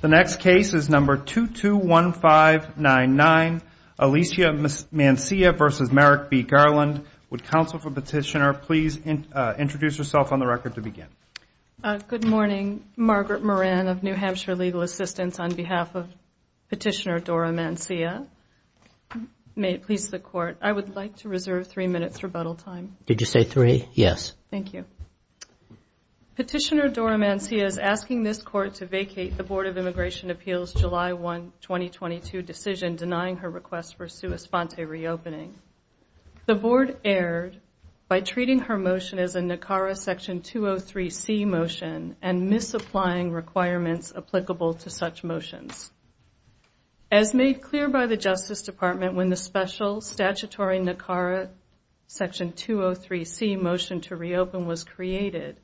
The next case is number 221599, Alicia Mancia v. Merrick B. Garland. Would counsel for petitioner please introduce herself on the record to begin. Good morning. Margaret Moran of New Hampshire Legal Assistance on behalf of Petitioner Dora Mancia. May it please the Court, I would like to reserve three minutes rebuttal time. Did you say three? Yes. Thank you. Petitioner Dora Mancia is asking this Court to vacate the Board of Immigration Appeals July 1, 2022 decision denying her request for sua sponte reopening. The Board erred by treating her motion as a NACARA Section 203C motion and misapplying requirements applicable to such motions. As made clear by the Justice Department when the special statutory NACARA Section 203C motion to reopen was created,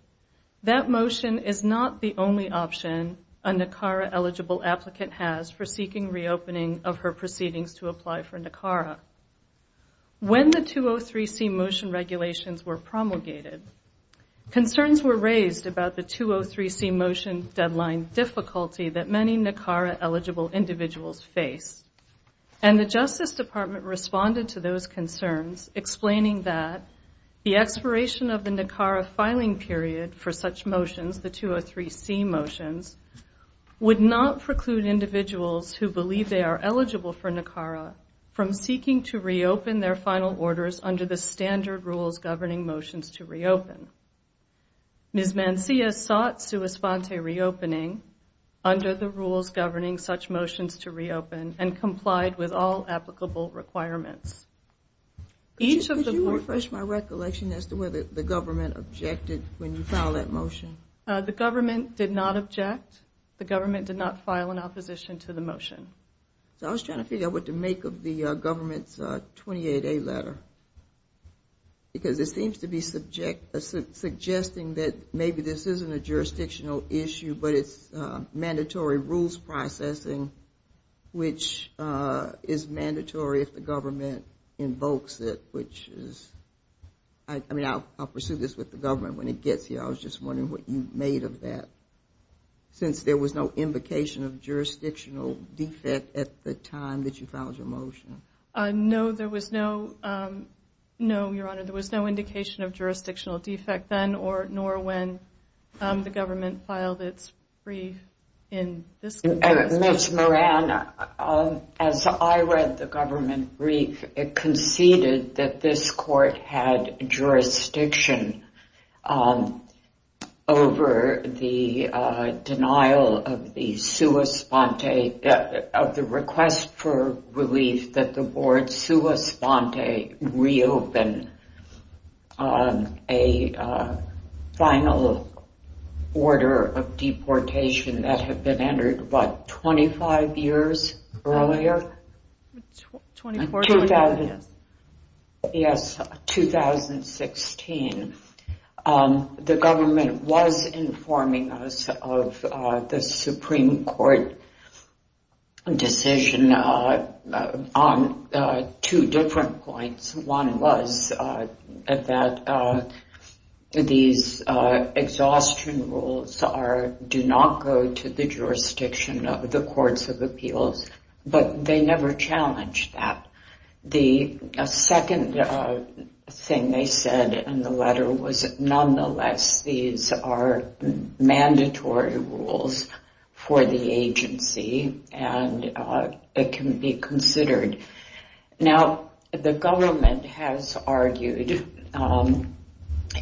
that motion is not the only option a NACARA-eligible applicant has for seeking reopening of her proceedings to apply for NACARA. When the 203C motion regulations were promulgated, concerns were raised about the 203C motion deadline difficulty that many NACARA-eligible individuals face. And the Justice Department responded to those concerns explaining that the expiration of the NACARA filing period for such motions, the 203C motions, would not preclude individuals who believe they are eligible for NACARA from seeking to reopen their final orders under the standard rules governing motions to reopen. Ms. Mancia sought sua sponte reopening under the rules governing such motions to reopen and complied with all applicable requirements. Could you refresh my recollection as to whether the government objected when you filed that motion? The government did not object. The government did not file an opposition to the motion. So I was trying to figure out what to make of the government's 28A letter, because it seems to be suggesting that maybe this isn't a jurisdictional issue, but it's mandatory rules processing, which is mandatory if the government invokes it, which is, I mean, I'll pursue this with the government when it gets here. I was just wondering what you made of that, since there was no indication of jurisdictional defect at the time that you filed your motion. No, there was no, no, Your Honor. There was no indication of jurisdictional defect then, nor when the government filed its brief in this case. Ms. Moran, as I read the government brief, it conceded that this court had jurisdiction over the denial of the sua sponte, of the request for relief that the board sua sponte reopen a final order of deportation that had been entered, what, 25 years earlier? 24 years, yes. Yes, 2016. The government was informing us of the Supreme Court decision on two different points. One was that these exhaustion rules do not go to the jurisdiction of the courts of appeals, but they never challenged that. The second thing they said in the letter was, nonetheless, these are mandatory rules for the agency, and it can be considered. Now, the government has argued,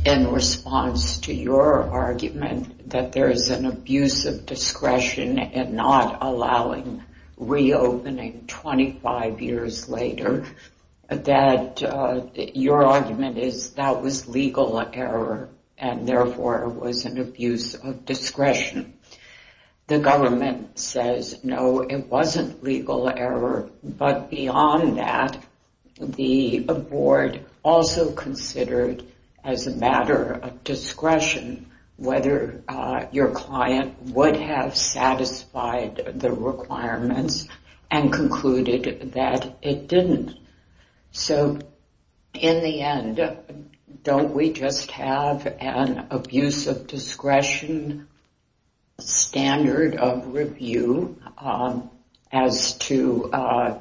in response to your argument, that there is an abuse of discretion in not allowing reopening 25 years later, that your argument is that was legal error and, therefore, was an abuse of discretion. The government says, no, it wasn't legal error, but beyond that, the board also considered, as a matter of discretion, whether your client would have satisfied the requirements and concluded that it didn't. So, in the end, don't we just have an abuse of discretion standard of review as to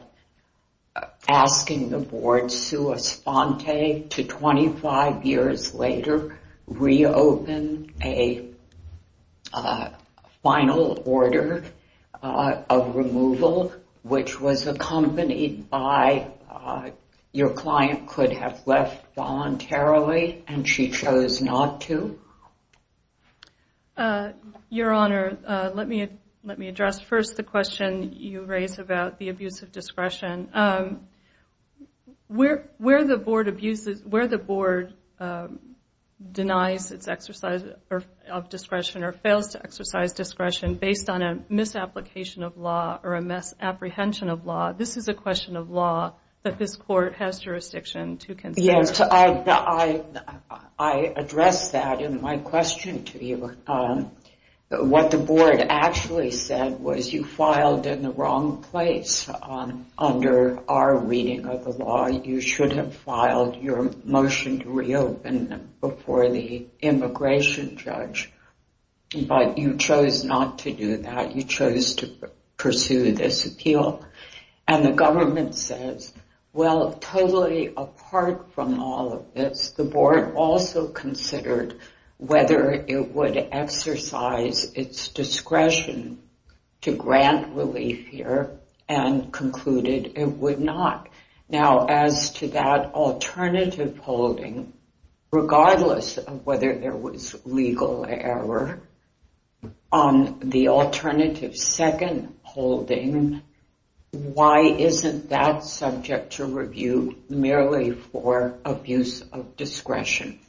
asking the board sua sponte to 25 years later reopen a final order of removal, which was accompanied by your client could have left voluntarily and she chose not to? Your Honor, let me address first the question you raised about the abuse of discretion. Where the board denies its exercise of discretion or fails to exercise discretion based on a misapplication of law or a misapprehension of law, this is a question of law that this court has jurisdiction to consider. Yes, I addressed that in my question to you. What the board actually said was you filed in the wrong place under our reading of the law. You should have filed your motion to reopen before the immigration judge, but you chose not to do that. You chose to pursue this appeal. And the government says, well, totally apart from all of this, the board also considered whether it would exercise its discretion to grant relief here and concluded it would not. Now, as to that alternative holding, regardless of whether there was legal error on the alternative second holding, why isn't that subject to review merely for abuse of discretion?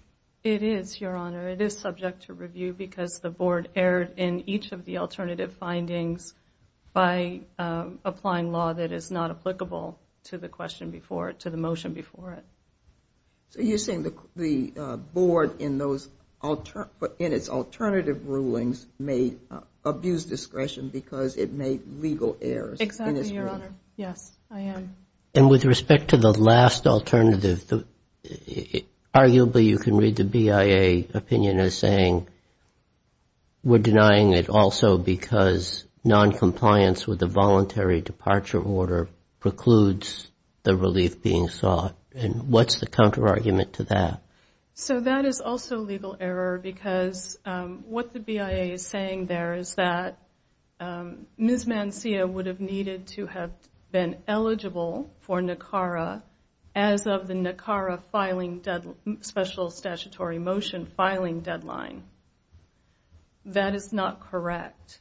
It is, Your Honor. It is subject to review because the board erred in each of the alternative findings by applying law that is not applicable to the motion before it. So you're saying the board in its alternative rulings may abuse discretion because it made legal errors in its ruling. Exactly, Your Honor. Yes, I am. And with respect to the last alternative, arguably you can read the BIA opinion as saying we're denying it also because noncompliance with the voluntary departure order precludes the relief being sought. And what's the counterargument to that? So that is also legal error because what the BIA is saying there is that Ms. Mancia would have needed to have been eligible for NACARA as of the NACARA special statutory motion filing deadline. That is not correct.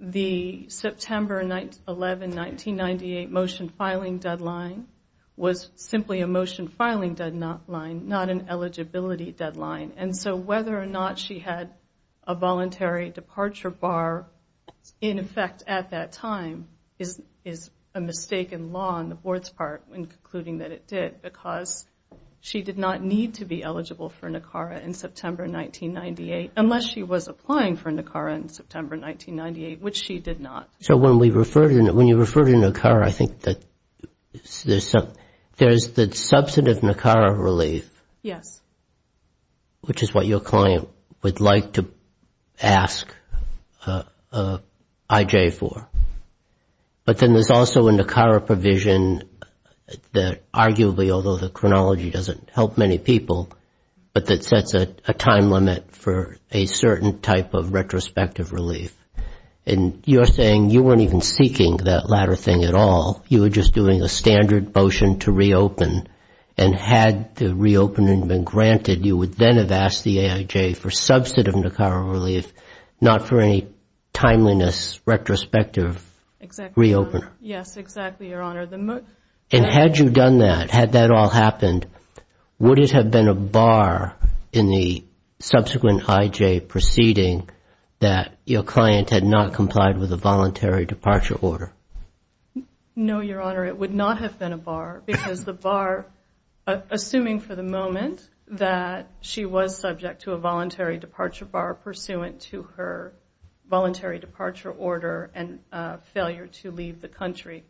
The September 11, 1998 motion filing deadline was simply a motion filing deadline, not an eligibility deadline. And so whether or not she had a voluntary departure bar in effect at that time is a mistaken law on the board's part in concluding that it did because she did not need to be eligible for NACARA in September 1998 unless she was applying for NACARA in September 1998, which she did not. So when you refer to NACARA, I think that there's the substantive NACARA relief. Yes. Which is what your client would like to ask IJ for. But then there's also a NACARA provision that arguably, although the chronology doesn't help many people, but that sets a time limit for a certain type of retrospective relief. And you're saying you weren't even seeking that latter thing at all. You were just doing a standard motion to reopen. And had the reopening been granted, you would then have asked the AIJ for substantive NACARA relief, not for any timeliness retrospective reopen. Yes, exactly, Your Honor. And had you done that, had that all happened, would it have been a bar in the subsequent IJ proceeding that your client had not complied with a voluntary departure order? No, Your Honor, it would not have been a bar because the bar, assuming for the moment that she was subject to a voluntary departure bar pursuant to her voluntary departure order and failure to leave the country,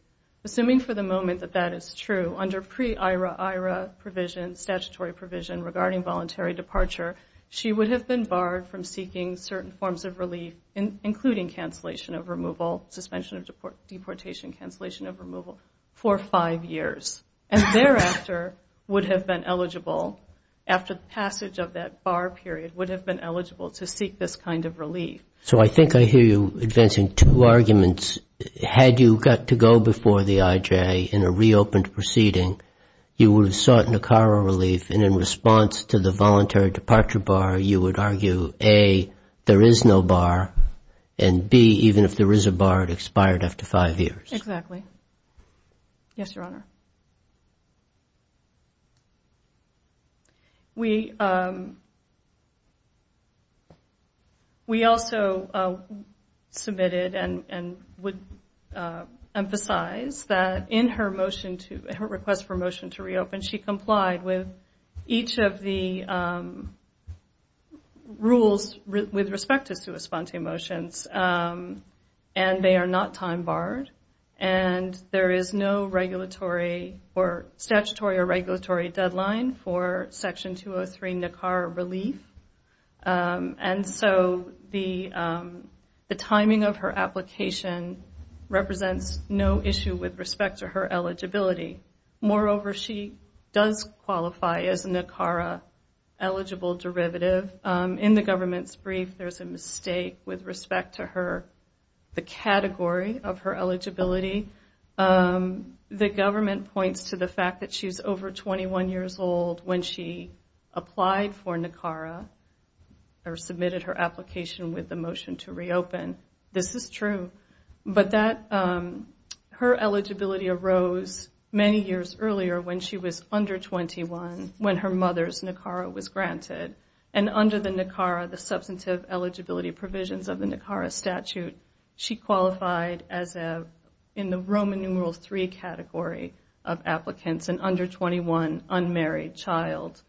assuming for the moment that that is true, under pre-IRA-IRA provision, statutory provision, regarding voluntary departure, she would have been barred from seeking certain forms of relief, including cancellation of removal, suspension of deportation, cancellation of removal, for five years. And thereafter would have been eligible, after the passage of that bar period, would have been eligible to seek this kind of relief. So I think I hear you advancing two arguments. Had you got to go before the IJ in a reopened proceeding, you would have sought NACARA relief, and in response to the voluntary departure bar, you would argue, A, there is no bar, and B, even if there is a bar, it expired after five years. Exactly. Yes, Your Honor. We also submitted and would emphasize that in her request for a motion to reopen, she complied with each of the rules with respect to sua sponte motions, and they are not time barred, and there is no regulatory restriction or statutory or regulatory deadline for Section 203 NACARA relief. And so the timing of her application represents no issue with respect to her eligibility. Moreover, she does qualify as NACARA eligible derivative. In the government's brief, there is a mistake with respect to the category of her eligibility. The government points to the fact that she is over 21 years old when she applied for NACARA or submitted her application with the motion to reopen. This is true, but her eligibility arose many years earlier when she was under 21, when her mother's NACARA was granted, and under the NACARA, she qualified as in the Roman numeral three category of applicants, an under 21 unmarried child.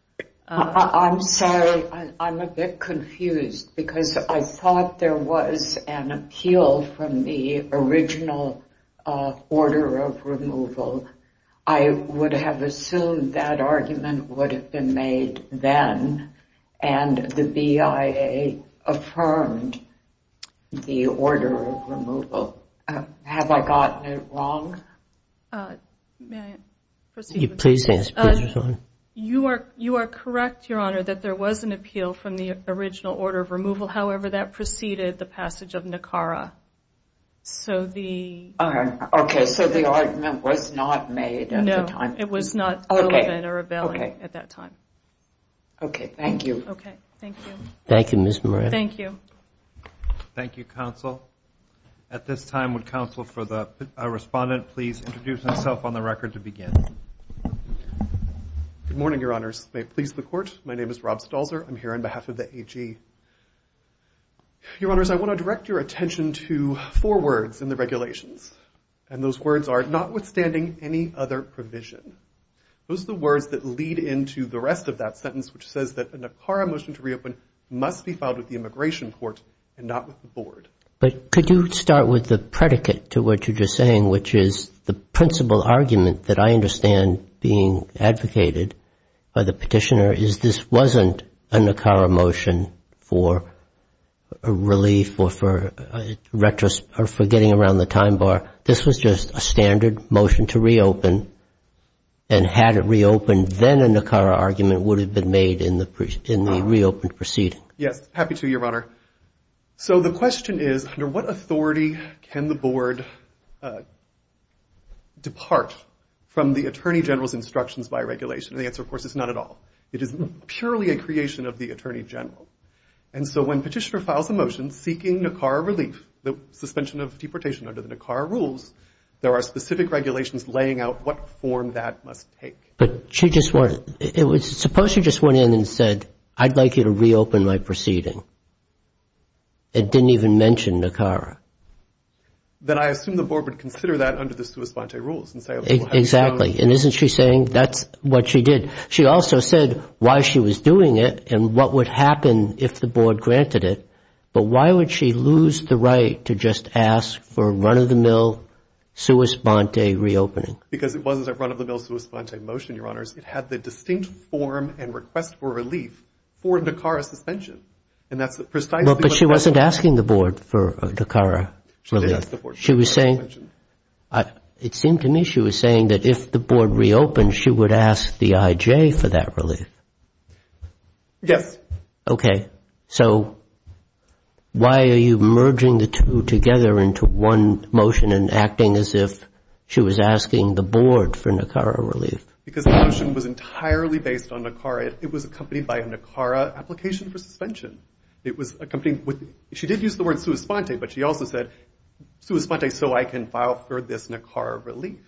I'm sorry, I'm a bit confused, because I thought there was an appeal from the original order of removal. I would have assumed that argument would have been made then, and the BIA affirmed the order of removal. Have I gotten it wrong? You are correct, Your Honor, that there was an appeal from the original order of removal. However, that preceded the passage of NACARA. Okay, so the argument was not made at the time. It was not relevant or available at that time. Okay, thank you. Thank you, Counsel. At this time, would Counsel for the Respondent please introduce himself on the record to begin? Good morning, Your Honors. May it please the Court, my name is Rob Stalzer. I'm here on behalf of the AG. Your Honors, I want to direct your attention to four words in the regulations, and those words are, notwithstanding any other provision. Those are the words that lead into the rest of that sentence, which says that a NACARA motion to reopen was made by the petitioner. This wasn't a NACARA motion for relief or for getting around the time bar. This was just a standard motion to reopen, and had it reopened, then a NACARA argument would have been made in the reopened proceeding. Yes, happy to, Your Honor. So the question is, under what authority can the Board depart from the Attorney General's instructions by regulation? And the answer, of course, is not at all. It is purely a creation of the Attorney General. And so when petitioner files a motion seeking NACARA relief, the suspension of deportation under the NACARA rules, there are specific regulations laying out what form that must take. But she just wanted, suppose she just went in and said, I'd like you to reopen my proceeding. It didn't even mention NACARA. Then I assume the Board would consider that under the sua sponte rules. Exactly, and isn't she saying that's what she did? She also said why she was doing it and what would happen if the Board granted it, but why would she lose the right to just ask for run-of-the-mill sua sponte reopening? Because it wasn't a run-of-the-mill sua sponte motion, Your Honors. It had the distinct form and request for relief for NACARA suspension. But she wasn't asking the Board for NACARA relief. It seemed to me she was saying that if the Board reopened, she would ask the I.J. for that relief. Yes. Okay. So why are you merging the two together into one motion and acting as if she was asking the Board for NACARA relief? Because the motion was entirely based on NACARA. It was accompanied by a NACARA application for suspension. She did use the word sua sponte, but she also said sua sponte so I can file for this NACARA relief.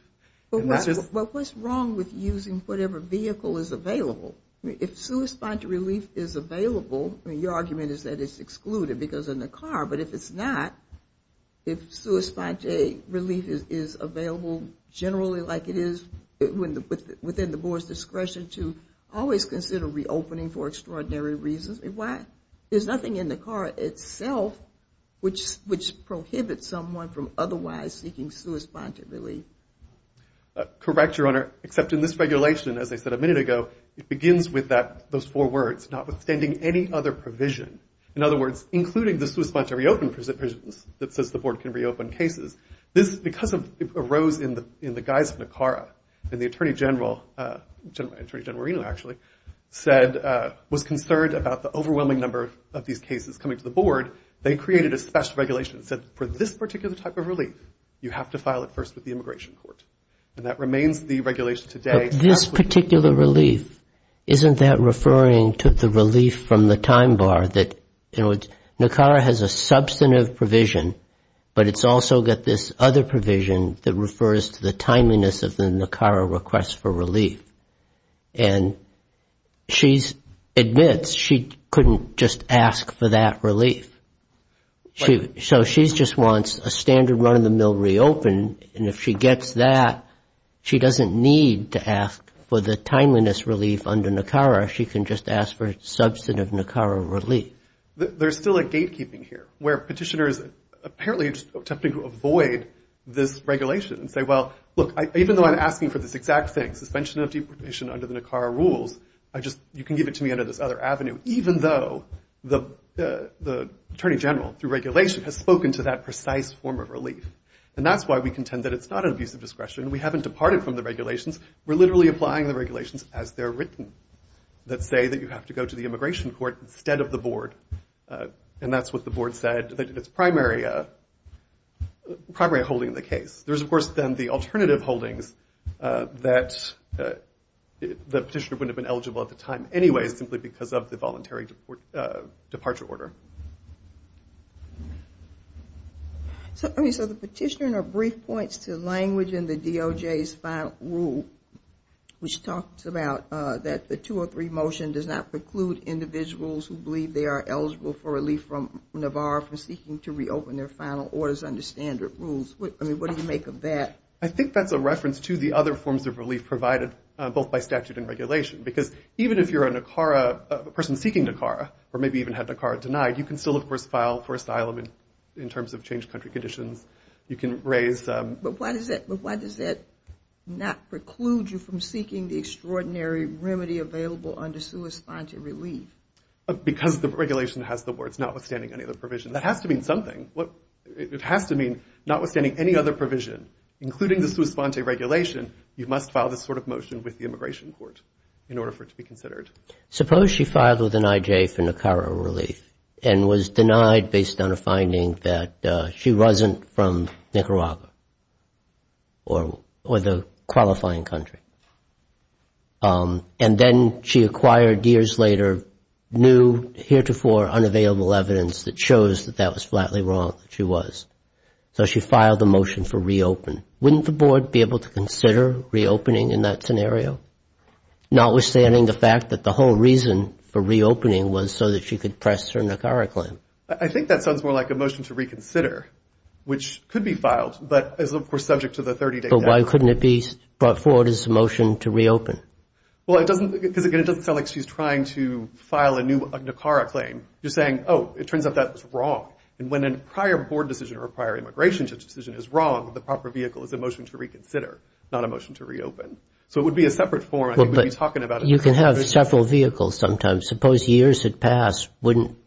Well, what's wrong with using whatever vehicle is available? If sua sponte relief is available, your argument is that it's excluded because of NACARA, but if it's not, if sua sponte relief is available generally like it is within the Board's discretion to always consider reopening for extraordinary reasons, why? There's nothing in NACARA itself which prohibits someone from otherwise seeking sua sponte relief. Correct, Your Honor, except in this regulation, as I said a minute ago, it begins with those four words, notwithstanding any other provision. In other words, including the sua sponte reopen provisions that says the Board can reopen cases. This, because it arose in the guise of NACARA and the Attorney General, Attorney General Reno actually, said, was concerned about the overwhelming number of these cases coming to the Board, they created a special regulation that said for this particular type of relief, you have to file it first with the Immigration Court. And that remains the regulation today. But this particular relief, isn't that referring to the relief from the time bar, that NACARA has a substantive provision, but it's also got this other provision that refers to the timeliness of the NACARA request for relief. And she admits she couldn't just ask for that relief. So she just wants a standard run-of-the-mill reopen, and if she gets that, she doesn't need to ask for the timeliness relief under NACARA. She can just ask for substantive NACARA relief. There's still a gatekeeping here, where Petitioners apparently are just attempting to avoid this regulation and say, well, look, even though I'm asking for this exact thing, suspension of deportation under the NACARA rules, I just, you can give it to me under this other avenue, even though the Attorney General, through regulation, has spoken to that precise form of relief. And that's why we contend that it's not an abuse of discretion. We haven't departed from the regulations. We're literally applying the regulations as they're written, that say that you have to go to the Immigration Court instead of the Board. And that's what the Board said, that it's primary holding the case. There's, of course, then the alternative holdings that the Petitioner wouldn't have been eligible at the time anyway, simply because of the voluntary departure order. So the Petitioner in her brief points to language in the DOJ's final rule, which talks about that the two or three motion does not preclude individuals who believe they are eligible for relief from NAVARRA from seeking to reopen their final orders under standard rules. I mean, what do you make of that? I think that's a reference to the other forms of relief provided, both by statute and regulation. Because even if you're a NACARA, a person seeking NACARA, or maybe even had NACARA denied, you can still, of course, file for asylum in terms of changed country conditions. But why does that not preclude you from seeking the extraordinary remedy available under sui sponte relief? Because the regulation has the words notwithstanding any other provision. That has to mean something. It has to mean notwithstanding any other provision, including the sui sponte regulation, you must file this sort of motion with the Immigration Court in order for it to be considered. It has to be from Nicaragua or the qualifying country. And then she acquired years later new heretofore unavailable evidence that shows that that was flatly wrong, that she was. So she filed a motion for reopen. Wouldn't the board be able to consider reopening in that scenario, notwithstanding the fact that the whole reason for reopening was so that she could press her NACARA claim? I think that sounds more like a motion to reconsider, which could be filed, but is, of course, subject to the 30-day deadline. But why couldn't it be brought forward as a motion to reopen? Because, again, it doesn't sound like she's trying to file a new NACARA claim. You're saying, oh, it turns out that was wrong. And when a prior board decision or a prior immigration decision is wrong, the proper vehicle is a motion to reconsider, not a motion to reopen. So it would be a separate form. I think we'd be talking about it. You can have several vehicles sometimes. Suppose years had passed. Wouldn't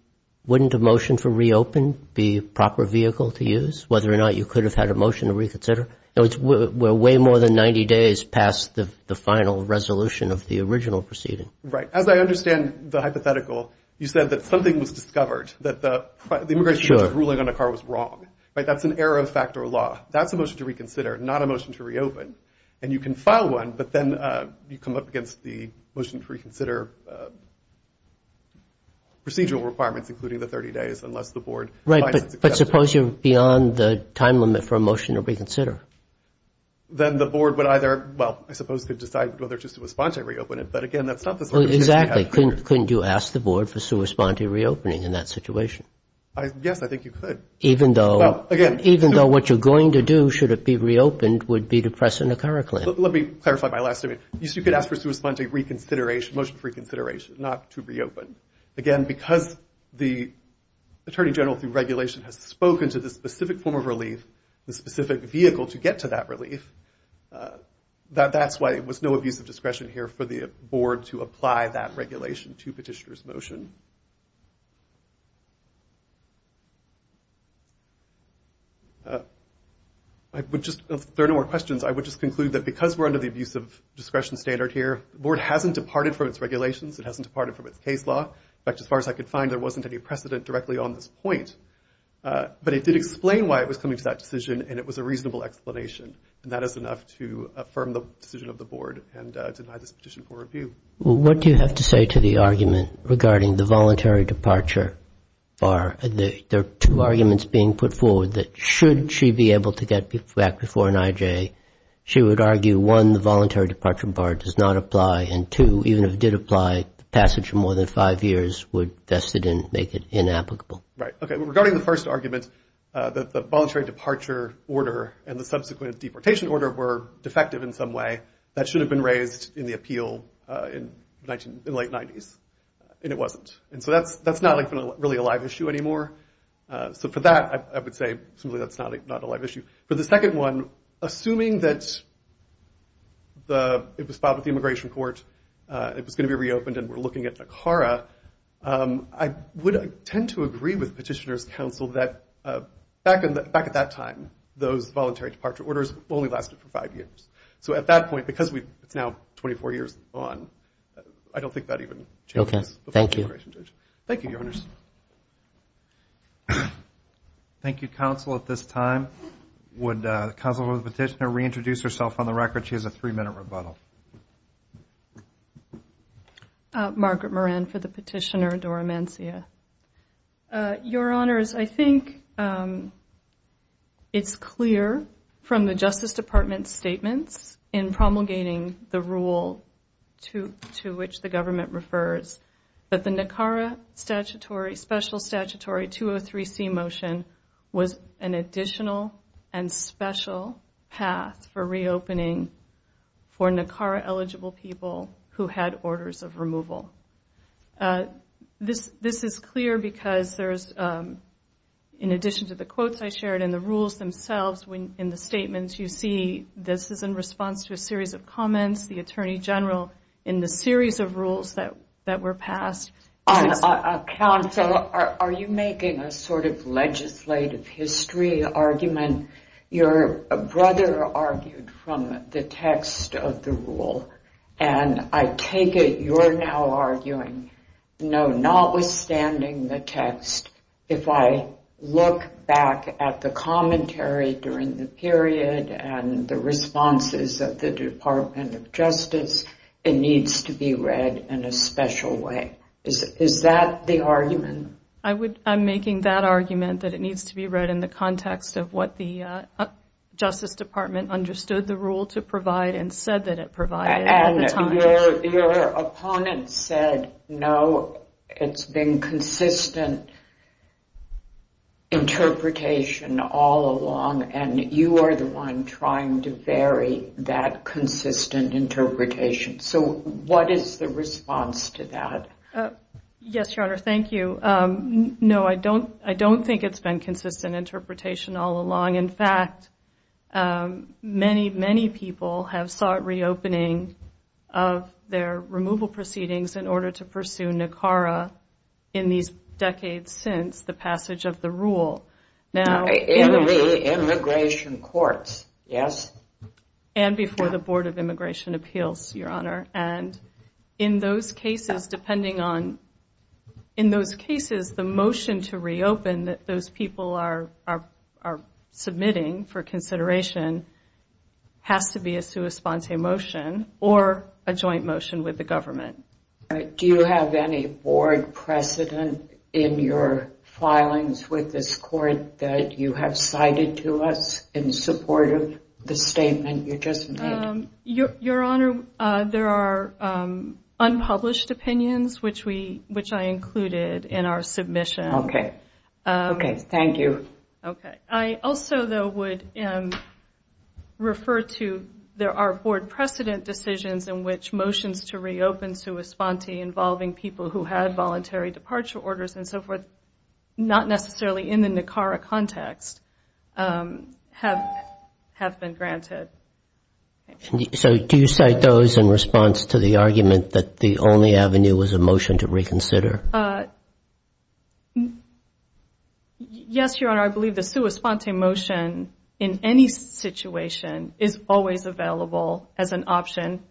a motion for reopen be a proper vehicle to use, whether or not you could have had a motion to reconsider? We're way more than 90 days past the final resolution of the original proceeding. Right. As I understand the hypothetical, you said that something was discovered, that the immigration ruling on NACARA was wrong. That's an error of fact or law. That's a motion to reconsider, not a motion to reopen. And you can file one, but then you come up against the motion to reconsider procedural requirements, including the 30 days, unless the board finds it's acceptable. But suppose you're beyond the time limit for a motion to reconsider? Then the board would either, well, I suppose could decide whether it's just a response to reopen it. But, again, that's not the sort of decision you have to make. Couldn't you ask the board for sua sponte reopening in that situation? Yes, I think you could. Even though what you're going to do, should it be reopened, would be to press a NACARA claim. Let me clarify my last statement. You could ask for sua sponte reconsideration, motion for reconsideration, not to reopen. Again, because the attorney general through regulation has spoken to the specific form of relief, the specific vehicle to get to that relief, that's why it was no abuse of discretion here for the board to apply that regulation to petitioner's motion. If there are no more questions, I would just conclude that because we're under the abuse of discretion standard here, the board hasn't departed from its regulations, it hasn't departed from its case law. In fact, as far as I could find, there wasn't any precedent directly on this point. But it did explain why it was coming to that decision, and it was a reasonable explanation. And that is enough to affirm the decision of the board and deny this petition for review. What do you have to say to the argument regarding the voluntary departure bar? There are two arguments being put forward that should she be able to get back before an IJ, she would argue, one, the voluntary departure bar does not apply, and two, even if it did apply, the passage of more than five years would make it inapplicable. Right. Okay. Regarding the first argument, the voluntary departure order and the subsequent deportation order were defective in some way. That should have been raised in the appeal in the late 90s, and it wasn't. And so that's not really a live issue anymore. So for that, I would say simply that's not a live issue. For the second one, assuming that it was filed with the immigration court, it was going to be reopened, and we're looking at NACARA, I would tend to agree with petitioner's counsel that back at that time, those voluntary departure orders only lasted for five years. So at that point, because it's now 24 years on, I don't think that even changes the function of the immigration judge. Thank you, Your Honors. Thank you, counsel. At this time, would the counsel for the petitioner reintroduce herself on the record? She has a three-minute rebuttal. Margaret Moran for the petitioner, Dora Mancia. Your Honors, I think it's clear from the Justice Department's statements in promulgating the rule to which the government refers that the NACARA special statutory 203C motion was an additional and special path for reopening for NACARA-eligible people who had orders of removal. This is clear because there's, in addition to the quotes I shared and the rules themselves, in the statements you see this is in response to a series of comments. The Attorney General, in the series of rules that were passed... Counsel, are you making a sort of legislative history argument? Your brother argued from the text of the rule, and I take it you're now arguing, no, notwithstanding the text, if I look back at the commentary during the period and the responses of the Department of Justice, it needs to be read in a special way. Is that the argument? I'm making that argument, that it needs to be read in the context of what the Justice Department understood the rule to provide and said that it provided at the time. And your opponent said, no, it's been consistent interpretation all along, and you are the one trying to vary that consistent interpretation. So what is the response to that? Yes, Your Honor, thank you. No, I don't think it's been consistent interpretation all along. In fact, many, many people have sought reopening of their removal proceedings in order to pursue NACARA in these decades since the passage of the rule. In the immigration courts, yes? And before the Board of Immigration Appeals, Your Honor, and in those cases, depending on, in those cases, the motion to reopen that those people are submitting for consideration has to be a sua sponsa motion or a joint motion with the government. Do you have any board precedent in your filings with this court? That you have cited to us in support of the statement you just made? Your Honor, there are unpublished opinions, which I included in our submission. Okay, thank you. I also, though, would refer to, there are board precedent decisions in which motions to reopen sua sponte involving people who had voluntary departure orders and so forth, not necessarily in the NACARA context, have been granted. So do you cite those in response to the argument that the only avenue was a motion to reconsider? Yes, Your Honor, I believe the sua sponte motion in any situation is always available as an option.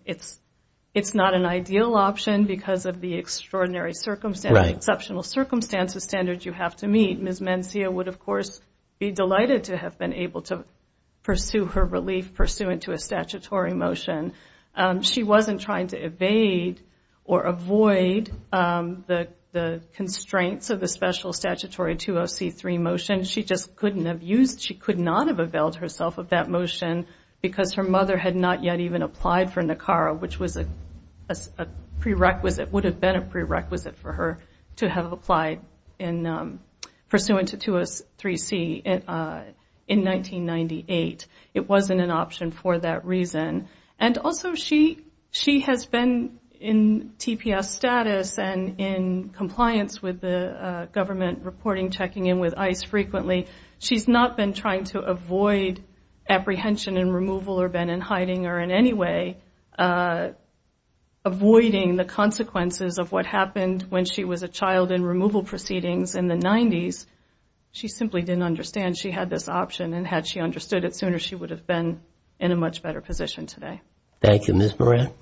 It's not an ideal option because of the extraordinary circumstances, exceptional circumstances, standards you have to meet. Ms. Mencia would, of course, be delighted to have been able to pursue her relief pursuant to a statutory motion. She wasn't trying to evade or avoid the constraints of the special statutory 20C3 motion. She just couldn't have used, she could not have availed herself of that motion because her mother had not yet even applied for NACARA. Which was a prerequisite, would have been a prerequisite for her to have applied in pursuant to 203C in 1998. It wasn't an option for that reason. And also she has been in TPS status and in compliance with the government reporting, checking in with ICE frequently. She's not been trying to avoid apprehension and removal or been in hiding or in any way. Avoiding the consequences of what happened when she was a child in removal proceedings in the 90s. She simply didn't understand she had this option and had she understood it sooner she would have been in a much better position today. Thank you, Ms. Moran.